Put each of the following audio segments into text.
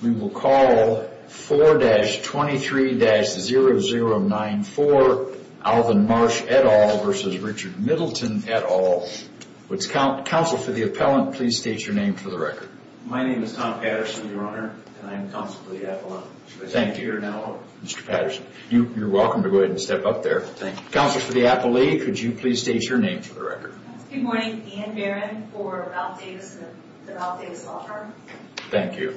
We will call 4-23-0094 Alvin Marsh et al. versus Richard Middleton et al. Council for the Appellant, please state your name for the record. My name is Tom Patterson, your Honor, and I'm Counsel for the Appellant. Thank you. Mr. Patterson, you're welcome to go ahead and step up there. Thank you. Counsel for the Appellee, could you please state your name for the record? Good morning. Ann Barron for Ralph Davis Law Firm. Thank you.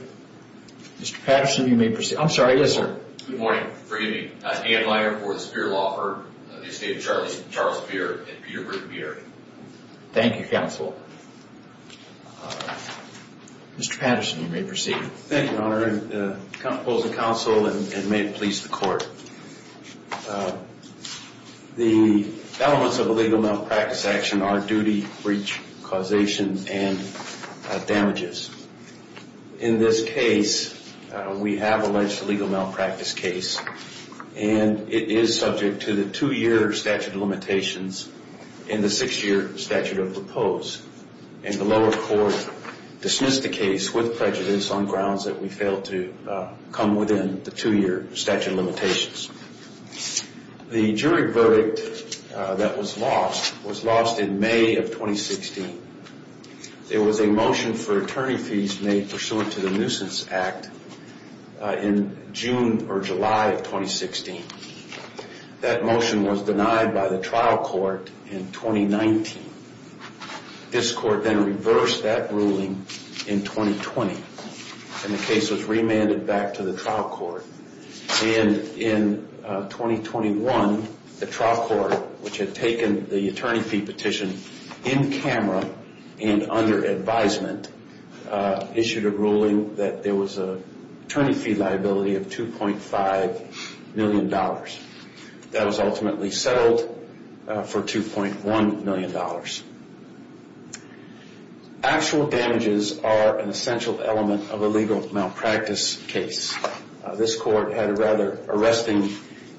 Mr. Patterson, you may proceed. I'm sorry, yes sir. Good morning. Forgive me. I'm Dan Leier for the Speer Law Firm, the estate of Charles Speer in Peterburg, New York. Thank you, Counsel. Mr. Patterson, you may proceed. Thank you, Your Honor. I come to propose a counsel and may it please the Court. The elements of a legal malpractice action are duty, breach, causation, and damages. In this case, we have alleged a legal malpractice case, and it is subject to the two-year statute of limitations and the six-year statute of repose. And the lower court dismissed the case with prejudice on grounds that we failed to come within the two-year statute of limitations. The jury verdict that was lost was lost in May of 2016. There was a motion for attorney fees made pursuant to the Nuisance Act in June or July of 2016. That motion was denied by the trial court in 2019. This court then reversed that ruling in 2020, and the case was remanded back to the trial court. And in 2021, the trial court, which had taken the attorney fee petition in camera and under advisement, issued a ruling that there was an attorney fee liability of $2.5 million. That was ultimately settled for $2.1 million. Actual damages are an essential element of a legal malpractice case. This court had a rather arresting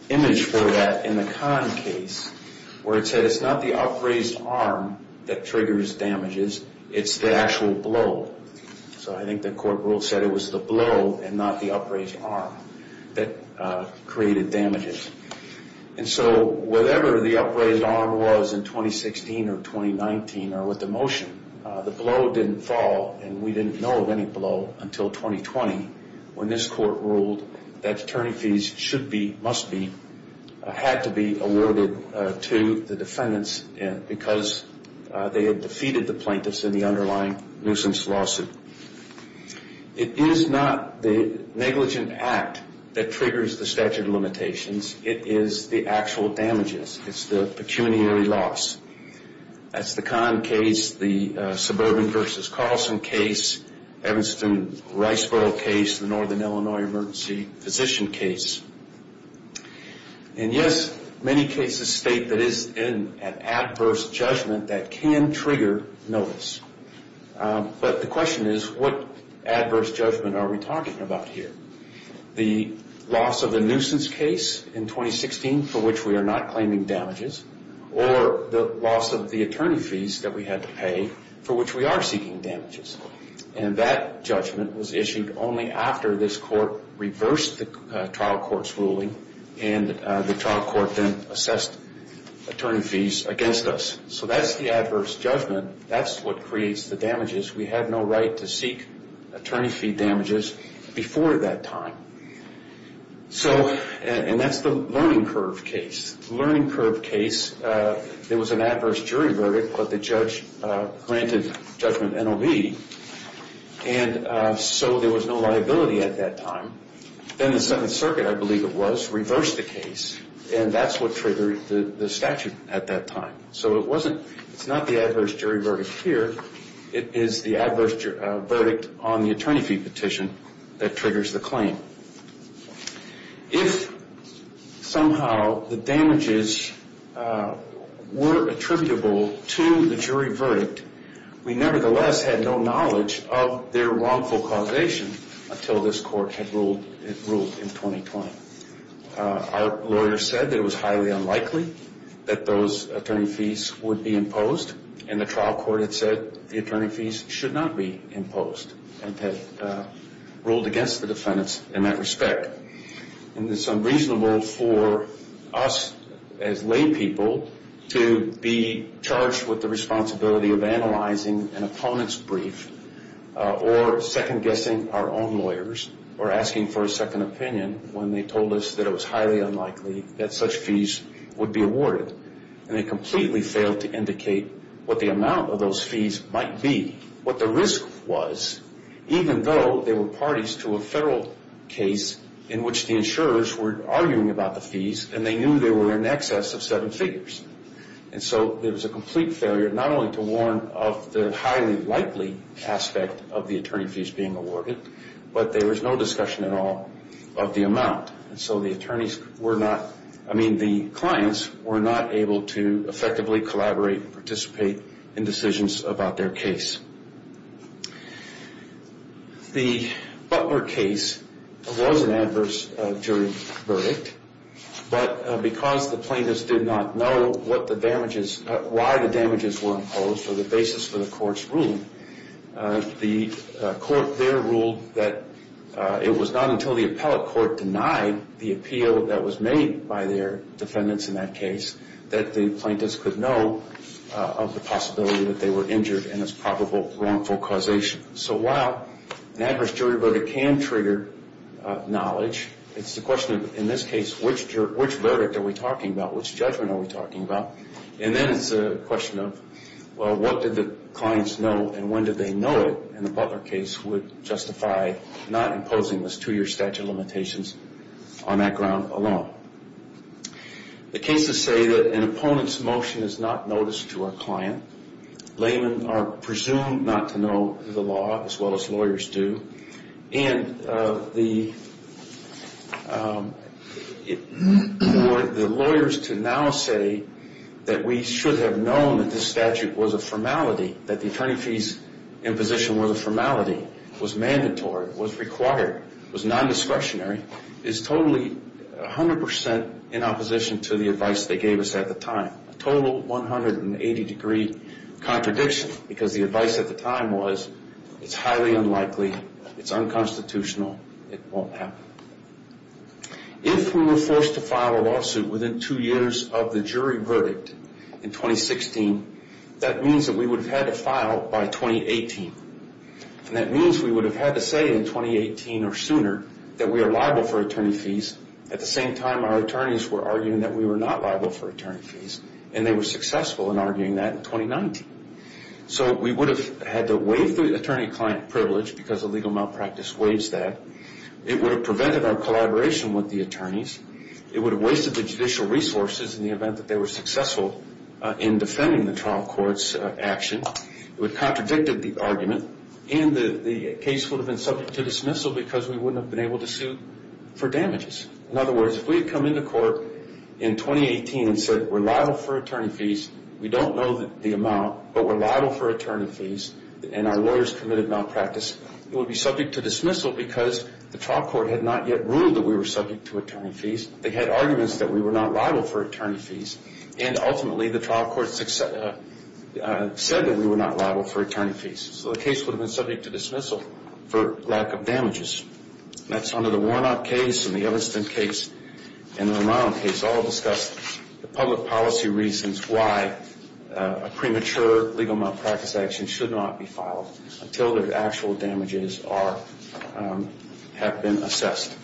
image for that in the Kahn case, where it said it's not the upraised arm that triggers damages, it's the actual blow. So I think the court rule said it was the blow and not the upraised arm that created damages. And so whatever the upraised arm was in 2016 or 2019 or with the motion, the blow didn't fall, and we didn't know of any blow until 2020 when this court ruled that attorney fees should be, must be, had to be awarded to the defendants because they had defeated the plaintiffs in the underlying nuisance lawsuit. It is not the negligent act that triggers the statute of limitations. It is the actual damages. It's the pecuniary loss. That's the Kahn case, the Suburban v. Carlson case, Evanston-Riceboro case, the Northern Illinois Emergency Physician case. And yes, many cases state that it is an adverse judgment that can trigger notice. But the question is, what adverse judgment are we talking about here? The loss of the nuisance case in 2016 for which we are not claiming damages, or the loss of the attorney fees that we had to pay for which we are seeking damages. And that judgment was issued only after this court reversed the trial court's ruling, and the trial court then assessed attorney fees against us. So that's the adverse judgment. That's what creates the damages. We had no right to seek attorney fee damages before that time. So, and that's the Learning Curve case. In this Learning Curve case, there was an adverse jury verdict, but the judge granted judgment NOV. And so there was no liability at that time. Then the Seventh Circuit, I believe it was, reversed the case. And that's what triggered the statute at that time. So it wasn't, it's not the adverse jury verdict here. It is the adverse verdict on the attorney fee petition that triggers the claim. If somehow the damages were attributable to the jury verdict, we nevertheless had no knowledge of their wrongful causation until this court had ruled in 2020. Our lawyer said that it was highly unlikely that those attorney fees would be imposed, and the trial court had said the attorney fees should not be imposed, and had ruled against the defendants in that respect. And it's unreasonable for us as laypeople to be charged with the responsibility of analyzing an opponent's brief, or second-guessing our own lawyers, or asking for a second opinion when they told us that it was highly unlikely that such fees would be awarded. And they completely failed to indicate what the amount of those fees might be, what the risk was, even though they were parties to a federal case in which the insurers were arguing about the fees, and they knew they were in excess of seven figures. And so it was a complete failure not only to warn of the highly likely aspect of the attorney fees being awarded, but there was no discussion at all of the amount. And so the attorneys were not, I mean, the clients were not able to effectively collaborate and participate in decisions about their case. The Butler case was an adverse jury verdict, but because the plaintiffs did not know what the damages, why the damages were imposed, or the basis for the court's ruling, the court there ruled that it was not until the appellate court denied the appeal that was made by their defendants in that case that the plaintiffs could know of the possibility that they were injured and its probable wrongful causation. So while an adverse jury verdict can trigger knowledge, it's the question of, in this case, which verdict are we talking about? Which judgment are we talking about? And then it's a question of, well, what did the clients know, and when did they know it? And the Butler case would justify not imposing those two-year statute limitations on that ground alone. The cases say that an opponent's motion is not noticed to a client. Laymen are presumed not to know the law as well as lawyers do. And for the lawyers to now say that we should have known that this statute was a formality, that the attorney fee's imposition was a formality, was mandatory, was required, was non-discretionary, is totally 100 percent in opposition to the advice they gave us at the time, a total 180-degree contradiction because the advice at the time was it's highly unlikely, it's unconstitutional, it won't happen. If we were forced to file a lawsuit within two years of the jury verdict in 2016, that means that we would have had to file by 2018. And that means we would have had to say in 2018 or sooner that we are liable for attorney fees at the same time our attorneys were arguing that we were not liable for attorney fees, and they were successful in arguing that in 2019. So we would have had to waive the attorney-client privilege because a legal malpractice waives that. It would have prevented our collaboration with the attorneys. It would have wasted the judicial resources in the event that they were successful in defending the trial court's action. It would have contradicted the argument. And the case would have been subject to dismissal because we wouldn't have been able to sue for damages. In other words, if we had come into court in 2018 and said we're liable for attorney fees, we don't know the amount, but we're liable for attorney fees, and our lawyers committed malpractice, it would be subject to dismissal because the trial court had not yet ruled that we were subject to attorney fees. They had arguments that we were not liable for attorney fees, and ultimately the trial court said that we were not liable for attorney fees. So the case would have been subject to dismissal for lack of damages. That's under the Warnock case and the Evanston case and the Romano case, all discussed the public policy reasons why a premature legal malpractice action should not be filed until the actual damages have been assessed.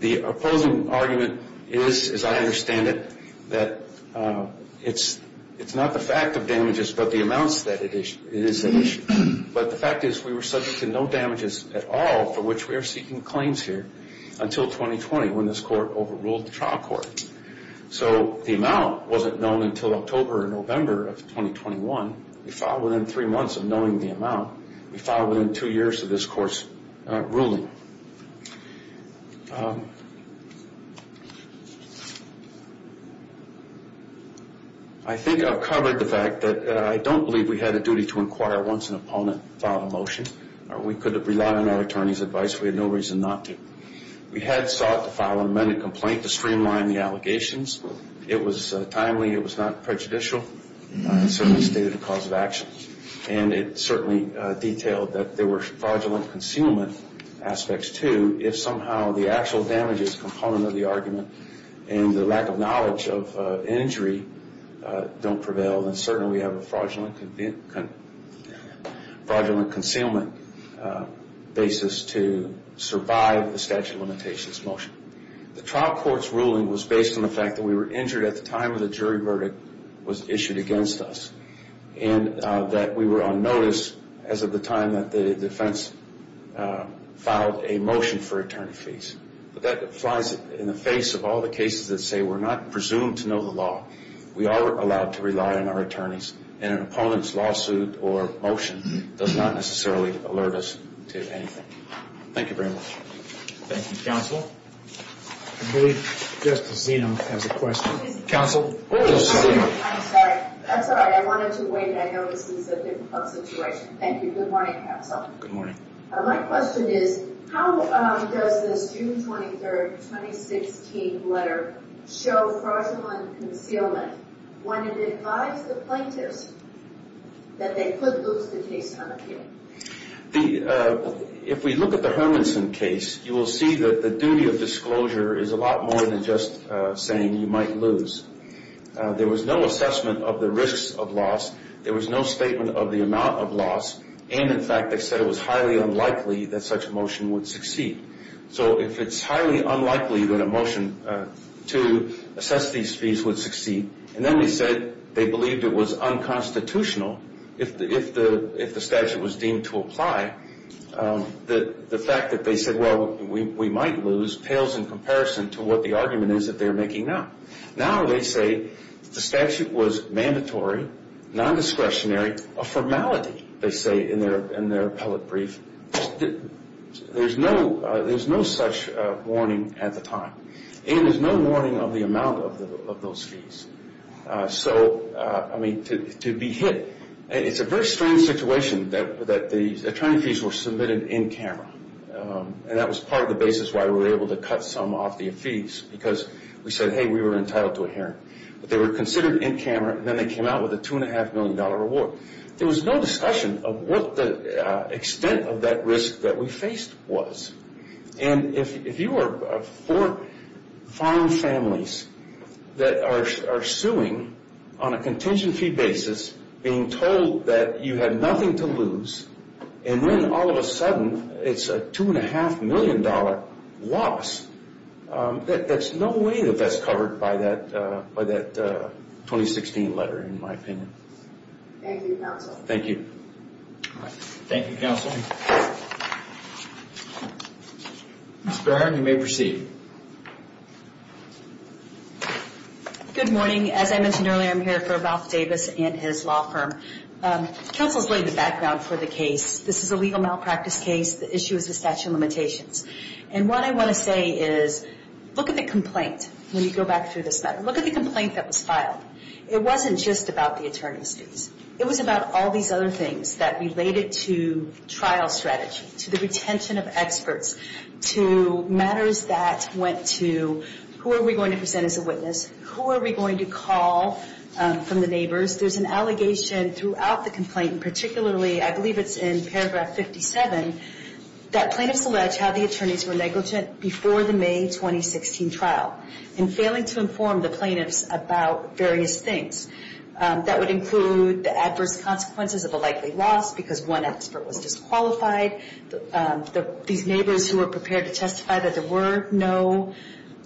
The opposing argument is, as I understand it, that it's not the fact of damages but the amounts that it is an issue. But the fact is we were subject to no damages at all for which we are seeking claims here until 2020 when this court overruled the trial court. So the amount wasn't known until October or November of 2021. We filed within three months of knowing the amount. We filed within two years of this court's ruling. I think I've covered the fact that I don't believe we had a duty to inquire once an opponent filed a motion. We could have relied on our attorney's advice. We had no reason not to. We had sought to file an amended complaint to streamline the allegations. It was timely. It was not prejudicial. It certainly stated a cause of action. And it certainly detailed that there were fraudulent concealment aspects, too. If somehow the actual damages component of the argument and the lack of knowledge of injury don't prevail, then certainly we have a fraudulent concealment basis to survive the statute of limitations motion. The trial court's ruling was based on the fact that we were injured at the time the jury verdict was issued against us and that we were on notice as of the time that the defense filed a motion for attorney fees. But that flies in the face of all the cases that say we're not presumed to know the law. We are allowed to rely on our attorneys, and an opponent's lawsuit or motion does not necessarily alert us to anything. Thank you very much. Thank you. Counsel? I believe Justice Zeno has a question. Counsel? I'm sorry. I'm sorry. I wanted to wait. I know this is a difficult situation. Thank you. Good morning, counsel. Good morning. My question is, how does this June 23, 2016 letter show fraudulent concealment when it advised the plaintiffs that they could lose the case on appeal? If we look at the Hermanson case, you will see that the duty of disclosure is a lot more than just saying you might lose. There was no assessment of the risks of loss. There was no statement of the amount of loss. And, in fact, they said it was highly unlikely that such a motion would succeed. So if it's highly unlikely that a motion to assess these fees would succeed, and then they said they believed it was unconstitutional if the statute was deemed to apply, the fact that they said, well, we might lose, pales in comparison to what the argument is that they're making now. Now they say the statute was mandatory, nondiscretionary, a formality, they say in their appellate brief. There's no such warning at the time. And there's no warning of the amount of those fees. So, I mean, to be hit, it's a very strange situation that the attorney fees were submitted in camera. And that was part of the basis why we were able to cut some off the fees, because we said, hey, we were entitled to a hearing. But they were considered in camera, and then they came out with a $2.5 million reward. There was no discussion of what the extent of that risk that we faced was. And if you are four fine families that are suing on a contingency basis, being told that you had nothing to lose, and then all of a sudden it's a $2.5 million loss, there's no way that that's covered by that 2016 letter, in my opinion. Thank you, counsel. Thank you. Thank you, counsel. Ms. Barron, you may proceed. Good morning. As I mentioned earlier, I'm here for Ralph Davis and his law firm. Counsel's laid the background for the case. This is a legal malpractice case. The issue is the statute of limitations. And what I want to say is, look at the complaint when you go back through this letter. Look at the complaint that was filed. It wasn't just about the attorney fees. It was about all these other things that related to trial strategy, to the retention of experts, to matters that went to who are we going to present as a witness, who are we going to call from the neighbors. There's an allegation throughout the complaint, and particularly I believe it's in paragraph 57, that plaintiffs allege how the attorneys were negligent before the May 2016 trial in failing to inform the plaintiffs about various things. That would include the adverse consequences of a likely loss because one expert was disqualified. These neighbors who were prepared to testify that there were no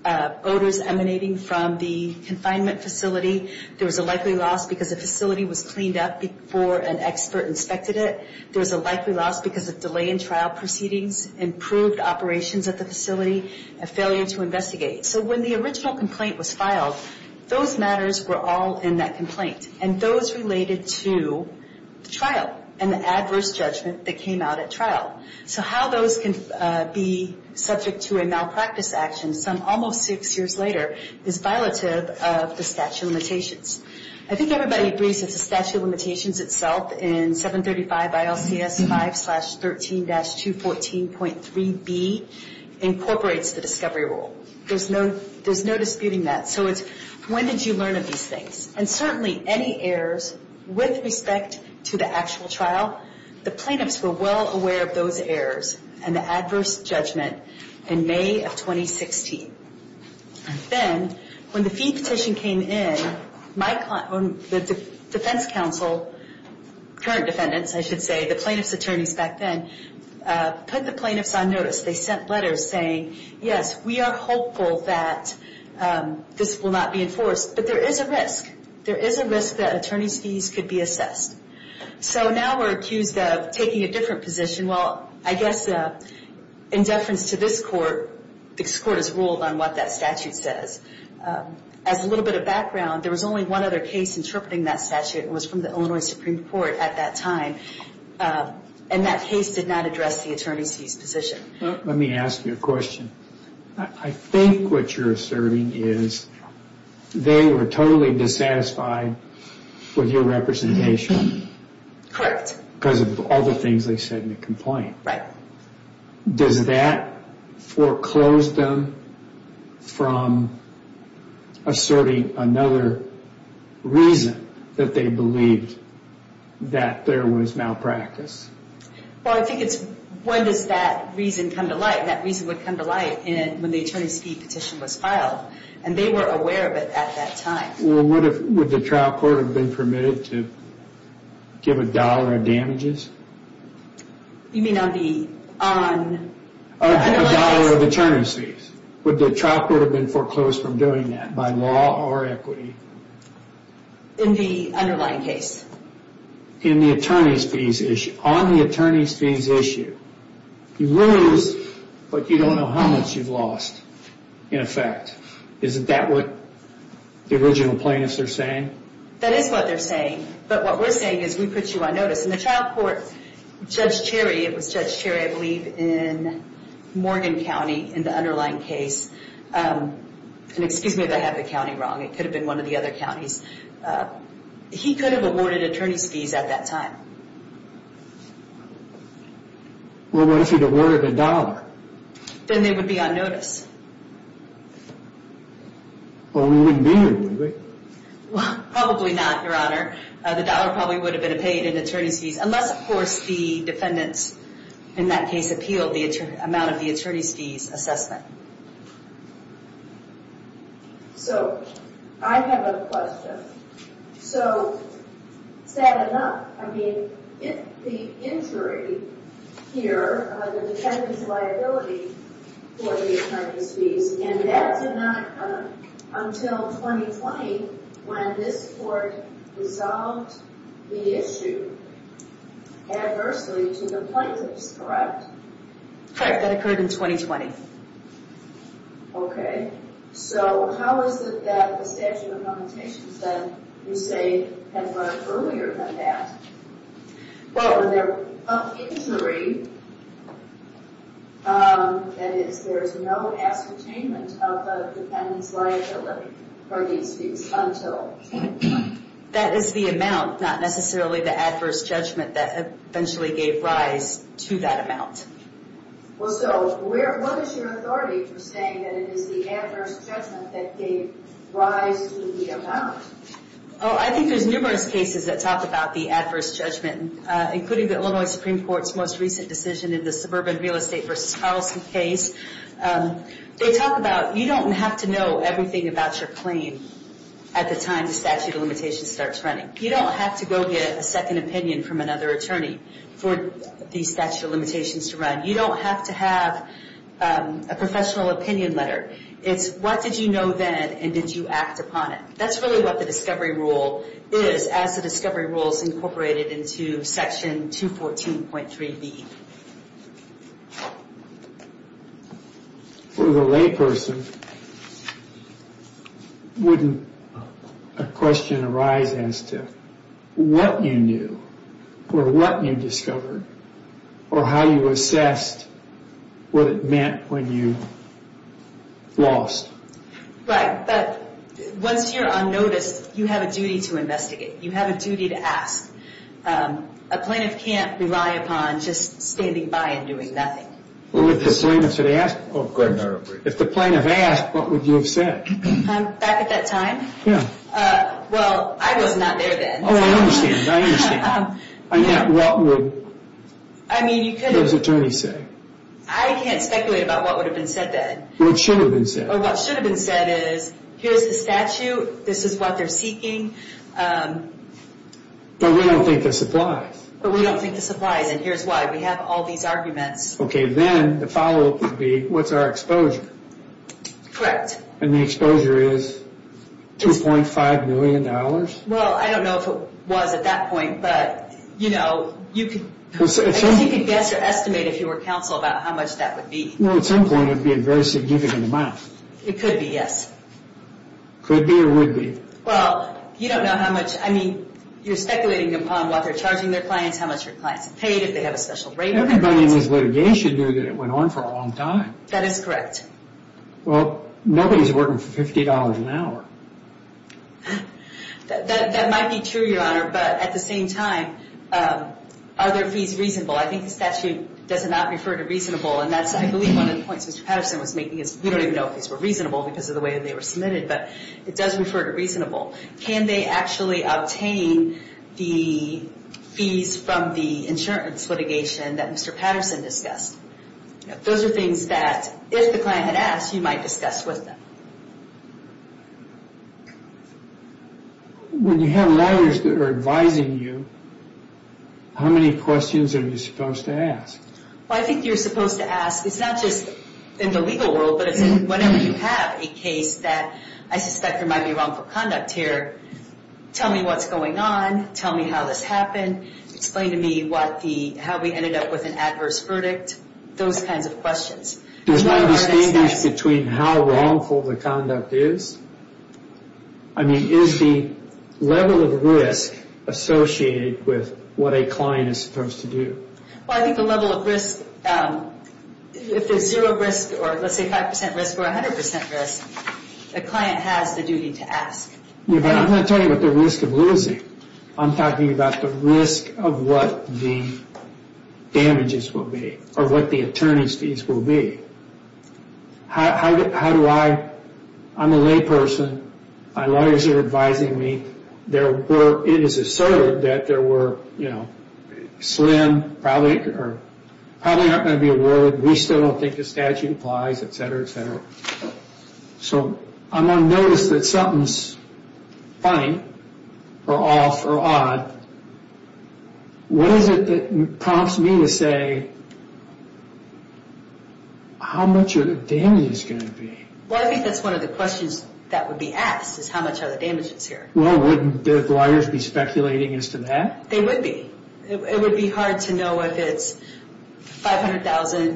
odors emanating from the confinement facility. There was a likely loss because the facility was cleaned up before an expert inspected it. There was a likely loss because of delay in trial proceedings, improved operations at the facility, and failure to investigate. So when the original complaint was filed, those matters were all in that complaint, and those related to the trial and the adverse judgment that came out at trial. So how those can be subject to a malpractice action some almost six years later is violative of the statute of limitations. I think everybody agrees that the statute of limitations itself in 735 ILCS 5-13-214.3b incorporates the discovery rule. There's no disputing that. So it's when did you learn of these things? And certainly any errors with respect to the actual trial, the plaintiffs were well aware of those errors and the adverse judgment in May of 2016. Then when the fee petition came in, the defense counsel, current defendants I should say, the plaintiffs' attorneys back then, put the plaintiffs on notice. They sent letters saying, yes, we are hopeful that this will not be enforced, but there is a risk. There is a risk that attorney's fees could be assessed. So now we're accused of taking a different position. Well, I guess in deference to this court, this court has ruled on what that statute says. As a little bit of background, there was only one other case interpreting that statute. It was from the Illinois Supreme Court at that time. And that case did not address the attorney's fees position. Let me ask you a question. I think what you're asserting is they were totally dissatisfied with your representation. Correct. Because of all the things they said in the complaint. Right. Does that foreclose them from asserting another reason that they believed that there was malpractice? Well, I think it's when does that reason come to light? That reason would come to light when the attorney's fee petition was filed. And they were aware of it at that time. Well, would the trial court have been permitted to give a dollar of damages? You mean on the underlying case? A dollar of attorney's fees. Would the trial court have been foreclosed from doing that by law or equity? In the underlying case. In the attorney's fees issue. On the attorney's fees issue. You lose, but you don't know how much you've lost, in effect. Isn't that what the original plaintiffs are saying? That is what they're saying. But what we're saying is we put you on notice. And the trial court, Judge Cherry, it was Judge Cherry, I believe, in Morgan County in the underlying case. And excuse me if I have the county wrong. It could have been one of the other counties. He could have awarded attorney's fees at that time. Well, what if he'd awarded a dollar? Then they would be on notice. Well, we wouldn't be, would we? Well, probably not, Your Honor. The dollar probably would have been paid in attorney's fees. Unless, of course, the defendants in that case appealed the amount of the attorney's fees assessment. So, I have a question. So, sad enough, I mean, the injury here, the defendant's liability for the attorney's fees, and that did not come until 2020 when this court resolved the issue adversely to the plaintiffs, correct? Correct. That occurred in 2020. Okay. So, how is it that the statute of limitations that you say had run earlier than that? Well, of injury, that is, there is no ascertainment of the defendant's liability for these fees until 2020. That is the amount, not necessarily the adverse judgment that eventually gave rise to that amount. Well, so, what is your authority for saying that it is the adverse judgment that gave rise to the amount? Oh, I think there's numerous cases that talk about the adverse judgment, including the Illinois Supreme Court's most recent decision in the suburban real estate versus policy case. They talk about, you don't have to know everything about your claim at the time the statute of limitations starts running. You don't have to go get a second opinion from another attorney for the statute of limitations to run. You don't have to have a professional opinion letter. It's, what did you know then, and did you act upon it? That's really what the discovery rule is, as the discovery rule is incorporated into Section 214.3b. For the layperson, wouldn't a question arise as to what you knew, or what you discovered, or how you assessed what it meant when you lost? Right, but once you're on notice, you have a duty to investigate. You have a duty to ask. A plaintiff can't rely upon just standing by and doing nothing. Well, if the plaintiff asked, what would you have said? Back at that time? Yeah. Well, I was not there then. Oh, I understand, I understand. I mean, what would those attorneys say? I can't speculate about what would have been said then. What should have been said? What should have been said is, here's the statute. This is what they're seeking. But we don't think this applies. But we don't think this applies, and here's why. We have all these arguments. Okay, then the follow-up would be, what's our exposure? Correct. And the exposure is $2.5 million? Well, I don't know if it was at that point, but, you know, you could guess or estimate, if you were counsel, about how much that would be. Well, at some point, it would be a very significant amount. It could be, yes. Could be or would be? Well, you don't know how much. I mean, you're speculating upon what they're charging their clients, how much their clients have paid, if they have a special rate. Everybody in this litigation knew that it went on for a long time. That is correct. Well, nobody's working for $50 an hour. That might be true, Your Honor, but at the same time, are their fees reasonable? I think the statute does not refer to reasonable, and that's, I believe, one of the points Mr. Patterson was making is, we don't even know if these were reasonable because of the way they were submitted, but it does refer to reasonable. Can they actually obtain the fees from the insurance litigation that Mr. Patterson discussed? Those are things that, if the client had asked, you might discuss with them. When you have lawyers that are advising you, how many questions are you supposed to ask? Well, I think you're supposed to ask, it's not just in the legal world, but it's whenever you have a case that I suspect there might be wrongful conduct here, tell me what's going on, tell me how this happened, explain to me how we ended up with an adverse verdict, those kinds of questions. Does one distinguish between how wrongful the conduct is? I mean, is the level of risk associated with what a client is supposed to do? Well, I think the level of risk, if there's zero risk, or let's say 5% risk or 100% risk, the client has the duty to ask. Yeah, but I'm not talking about the risk of losing. I'm talking about the risk of what the damages will be, or what the attorney's fees will be. How do I, I'm a layperson, my lawyers are advising me, it is asserted that there were slim, probably aren't going to be awarded, we still don't think the statute applies, etc., etc. So I'm going to notice that something's funny, or off, or odd. What is it that prompts me to say, how much of the damage is going to be? Well, I think that's one of the questions that would be asked, is how much of the damage is here? Well, wouldn't the lawyers be speculating as to that? They would be. It would be hard to know if it's $500,000,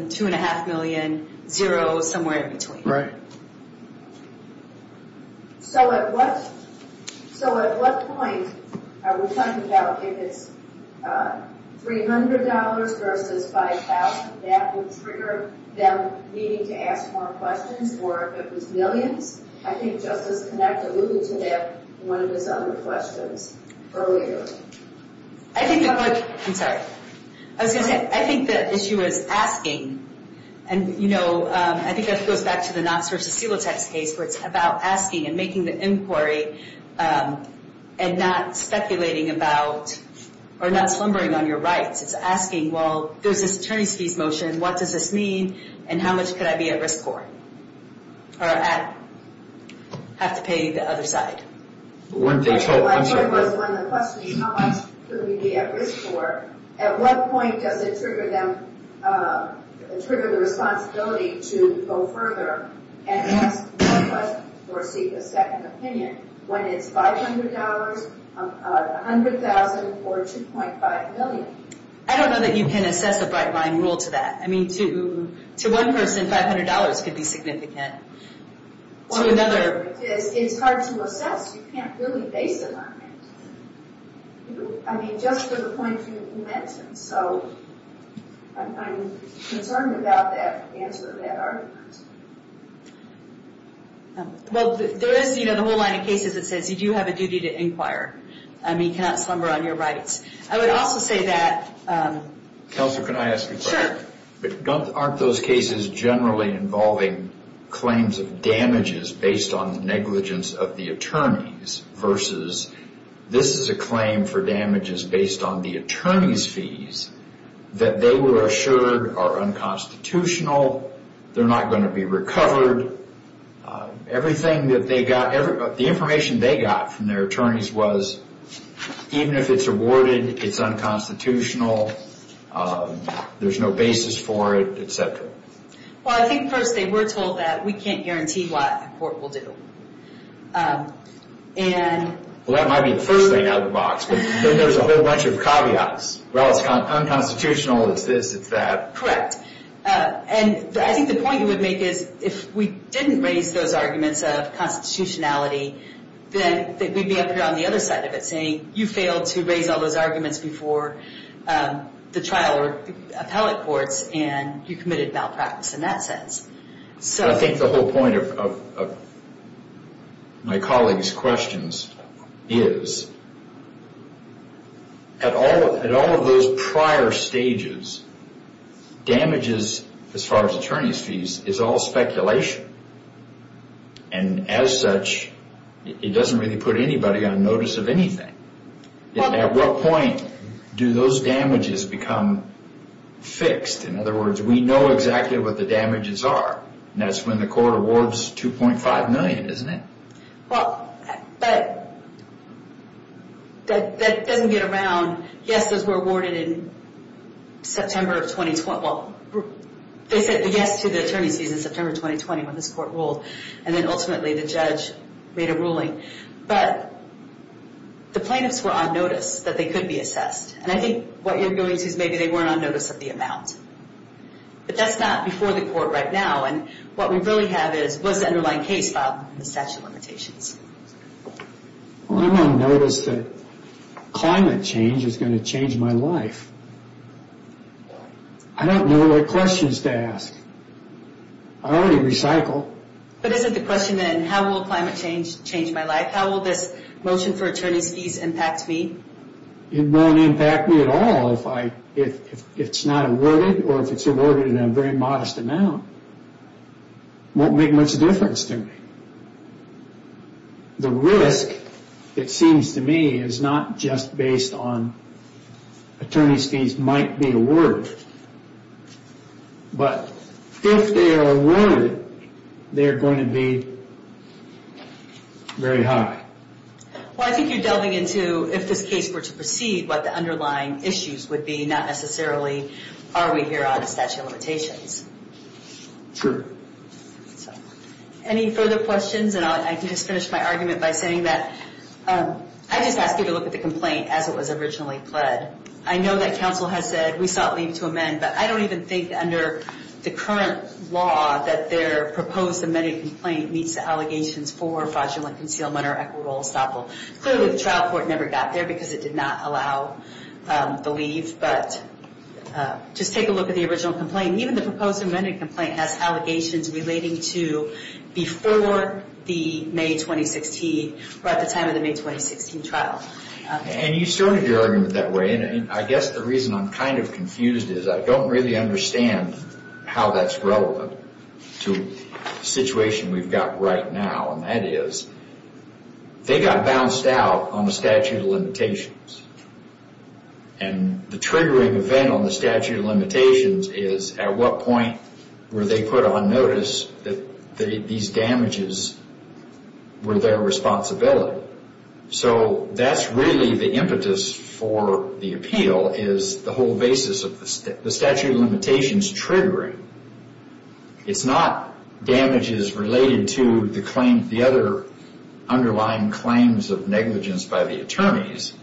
$2.5 million, zero, somewhere in between. Right. So at what point are we talking about if it's $300 versus $5,000, that would trigger them needing to ask more questions, or if it was millions? I think Justice Connacht alluded to that in one of his other questions earlier. I think the question, I'm sorry, I was going to say, I think the issue is asking, and, you know, I think that goes back to the Knox v. Silotek case, where it's about asking and making the inquiry and not speculating about, or not slumbering on your rights. It's asking, well, there's this Ternyski's motion, what does this mean, and how much could I be at risk for, or have to pay the other side? My point was, when the question is how much could we be at risk for, at what point does it trigger them, trigger the responsibility to go further and ask more questions or seek a second opinion, when it's $500, $100,000, or $2.5 million? I don't know that you can assess a bright line rule to that. I mean, to one person, $500 could be significant. To another, it's hard to assess. You can't really base it on it. I mean, just to the point you mentioned, so I'm concerned about the answer to that argument. Well, there is, you know, the whole line of cases that says you do have a duty to inquire. I mean, you cannot slumber on your rights. I would also say that... Counselor, can I ask a question? Sure. Aren't those cases generally involving claims of damages based on negligence of the attorneys versus this is a claim for damages based on the attorney's fees that they were assured are unconstitutional, they're not going to be recovered. Everything that they got, the information they got from their attorneys was, even if it's awarded, it's unconstitutional, there's no basis for it, et cetera. Well, I think first they were told that we can't guarantee what a court will do. And... Well, that might be the first thing out of the box, but then there's a whole bunch of caveats. Well, it's unconstitutional, it's this, it's that. Correct. And I think the point you would make is if we didn't raise those arguments of constitutionality, then we'd be up here on the other side of it saying, you failed to raise all those arguments before the trial or appellate courts and you committed malpractice in that sense. I think the whole point of my colleague's questions is, at all of those prior stages, damages, as far as attorney's fees, is all speculation. And as such, it doesn't really put anybody on notice of anything. At what point do those damages become fixed? In other words, we know exactly what the damages are, and that's when the court awards $2.5 million, isn't it? Well, that doesn't get around. Yes, those were awarded in September of 2020. Well, they said yes to the attorney's fees in September 2020 when this court ruled, and then ultimately the judge made a ruling. But the plaintiffs were on notice that they could be assessed. And I think what you're going to see is maybe they weren't on notice of the amount. But that's not before the court right now, and what we really have is, what's the underlying case filed in the statute of limitations? Well, I'm on notice that climate change is going to change my life. I don't know what questions to ask. I already recycled. But isn't the question then, how will climate change change my life? How will this motion for attorney's fees impact me? It won't impact me at all if it's not awarded, or if it's awarded in a very modest amount. It won't make much difference to me. The risk, it seems to me, is not just based on attorney's fees might be awarded. But if they are awarded, they're going to be very high. Well, I think you're delving into, if this case were to proceed, what the underlying issues would be, not necessarily, are we here on the statute of limitations? True. Any further questions? And I can just finish my argument by saying that I just asked you to look at the complaint as it was originally pled. I know that counsel has said we sought leave to amend, but I don't even think under the current law that their proposed amended complaint meets the allegations for fraudulent concealment or equitable estoppel. Clearly, the trial court never got there because it did not allow the leave. But just take a look at the original complaint. Even the proposed amended complaint has allegations relating to before the May 2016, or at the time of the May 2016 trial. And you started your argument that way, and I guess the reason I'm kind of confused is I don't really understand how that's relevant to the situation we've got right now. And that is, they got bounced out on the statute of limitations. And the triggering event on the statute of limitations is, at what point were they put on notice that these damages were their responsibility? So that's really the impetus for the appeal is the whole basis of the statute of limitations triggering. It's not damages related to the other underlying claims of negligence by the attorneys.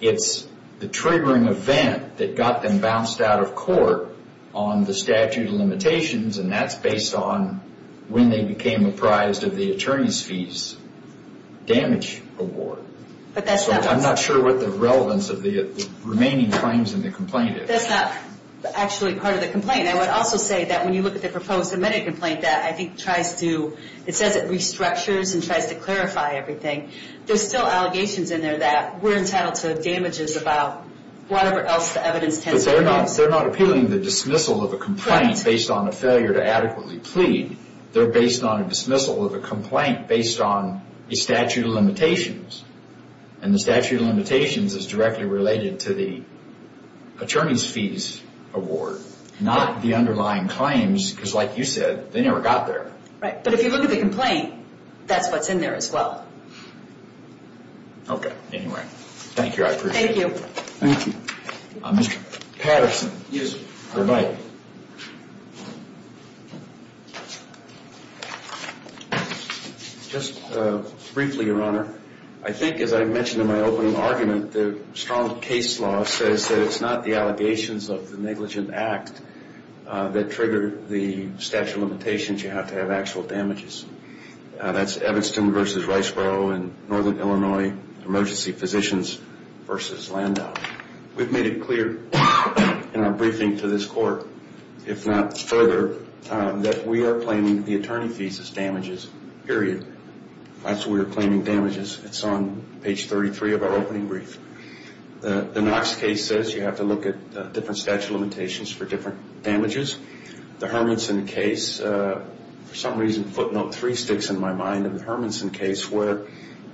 It's the triggering event that got them bounced out of court on the statute of limitations, and that's based on when they became apprised of the attorney's fees damage award. So I'm not sure what the relevance of the remaining claims in the complaint is. That's not actually part of the complaint. I would also say that when you look at the proposed amended complaint, that I think tries to, it says it restructures and tries to clarify everything. There's still allegations in there that we're entitled to damages about whatever else the evidence tends to be. But they're not appealing the dismissal of a complaint based on a failure to adequately plead. They're based on a dismissal of a complaint based on the statute of limitations. And the statute of limitations is directly related to the attorney's fees award, not the underlying claims, because like you said, they never got there. Right, but if you look at the complaint, that's what's in there as well. Okay, anyway. Thank you, I appreciate it. Thank you. Thank you. Mr. Patterson, you have the mic. Just briefly, Your Honor, I think as I mentioned in my opening argument, the strong case law says that it's not the allegations of the negligent act that trigger the statute of limitations. You have to have actual damages. That's Evanston v. Riceboro in northern Illinois, emergency physicians v. Landau. We've made it clear in our briefing to this court, if not further, that we are claiming the attorney fees as damages, period. That's what we're claiming damages. It's on page 33 of our opening brief. The Knox case says you have to look at different statute of limitations for different damages. The Hermanson case, for some reason footnote three sticks in my mind, in the Hermanson case where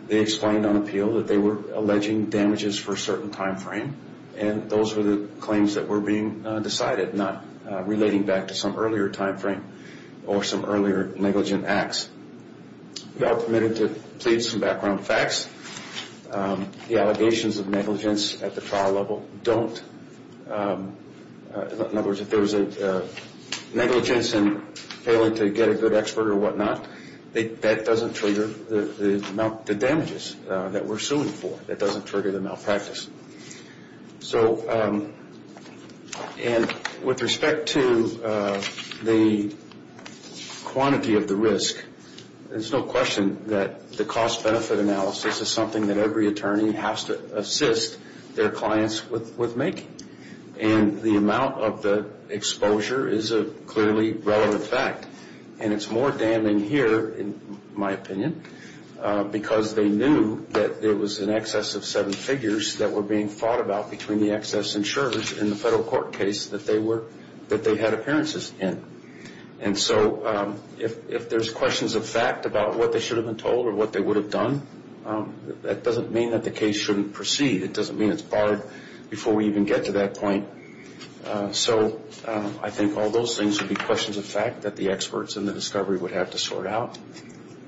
they explained on appeal that they were alleging damages for a certain time frame, and those were the claims that were being decided, not relating back to some earlier time frame or some earlier negligent acts. We are permitted to plead some background facts. The allegations of negligence at the trial level don't, in other words, if there was a negligence in failing to get a good expert or whatnot, that doesn't trigger the damages that we're suing for. That doesn't trigger the malpractice. And with respect to the quantity of the risk, there's no question that the cost-benefit analysis is something that every attorney has to assist their clients with making. And the amount of the exposure is a clearly relevant fact. And it's more damning here, in my opinion, because they knew that there was an excess of seven figures that were being fought about between the excess insurers and the federal court case that they had appearances in. And so if there's questions of fact about what they should have been told or what they would have done, that doesn't mean that the case shouldn't proceed. It doesn't mean it's barred before we even get to that point. So I think all those things would be questions of fact that the experts in the discovery would have to sort out.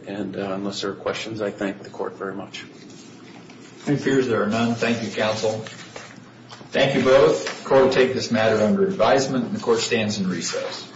And unless there are questions, I thank the court very much. No fears, there are none. Thank you, counsel. Thank you both. The court will take this matter under advisement, and the court stands in recess.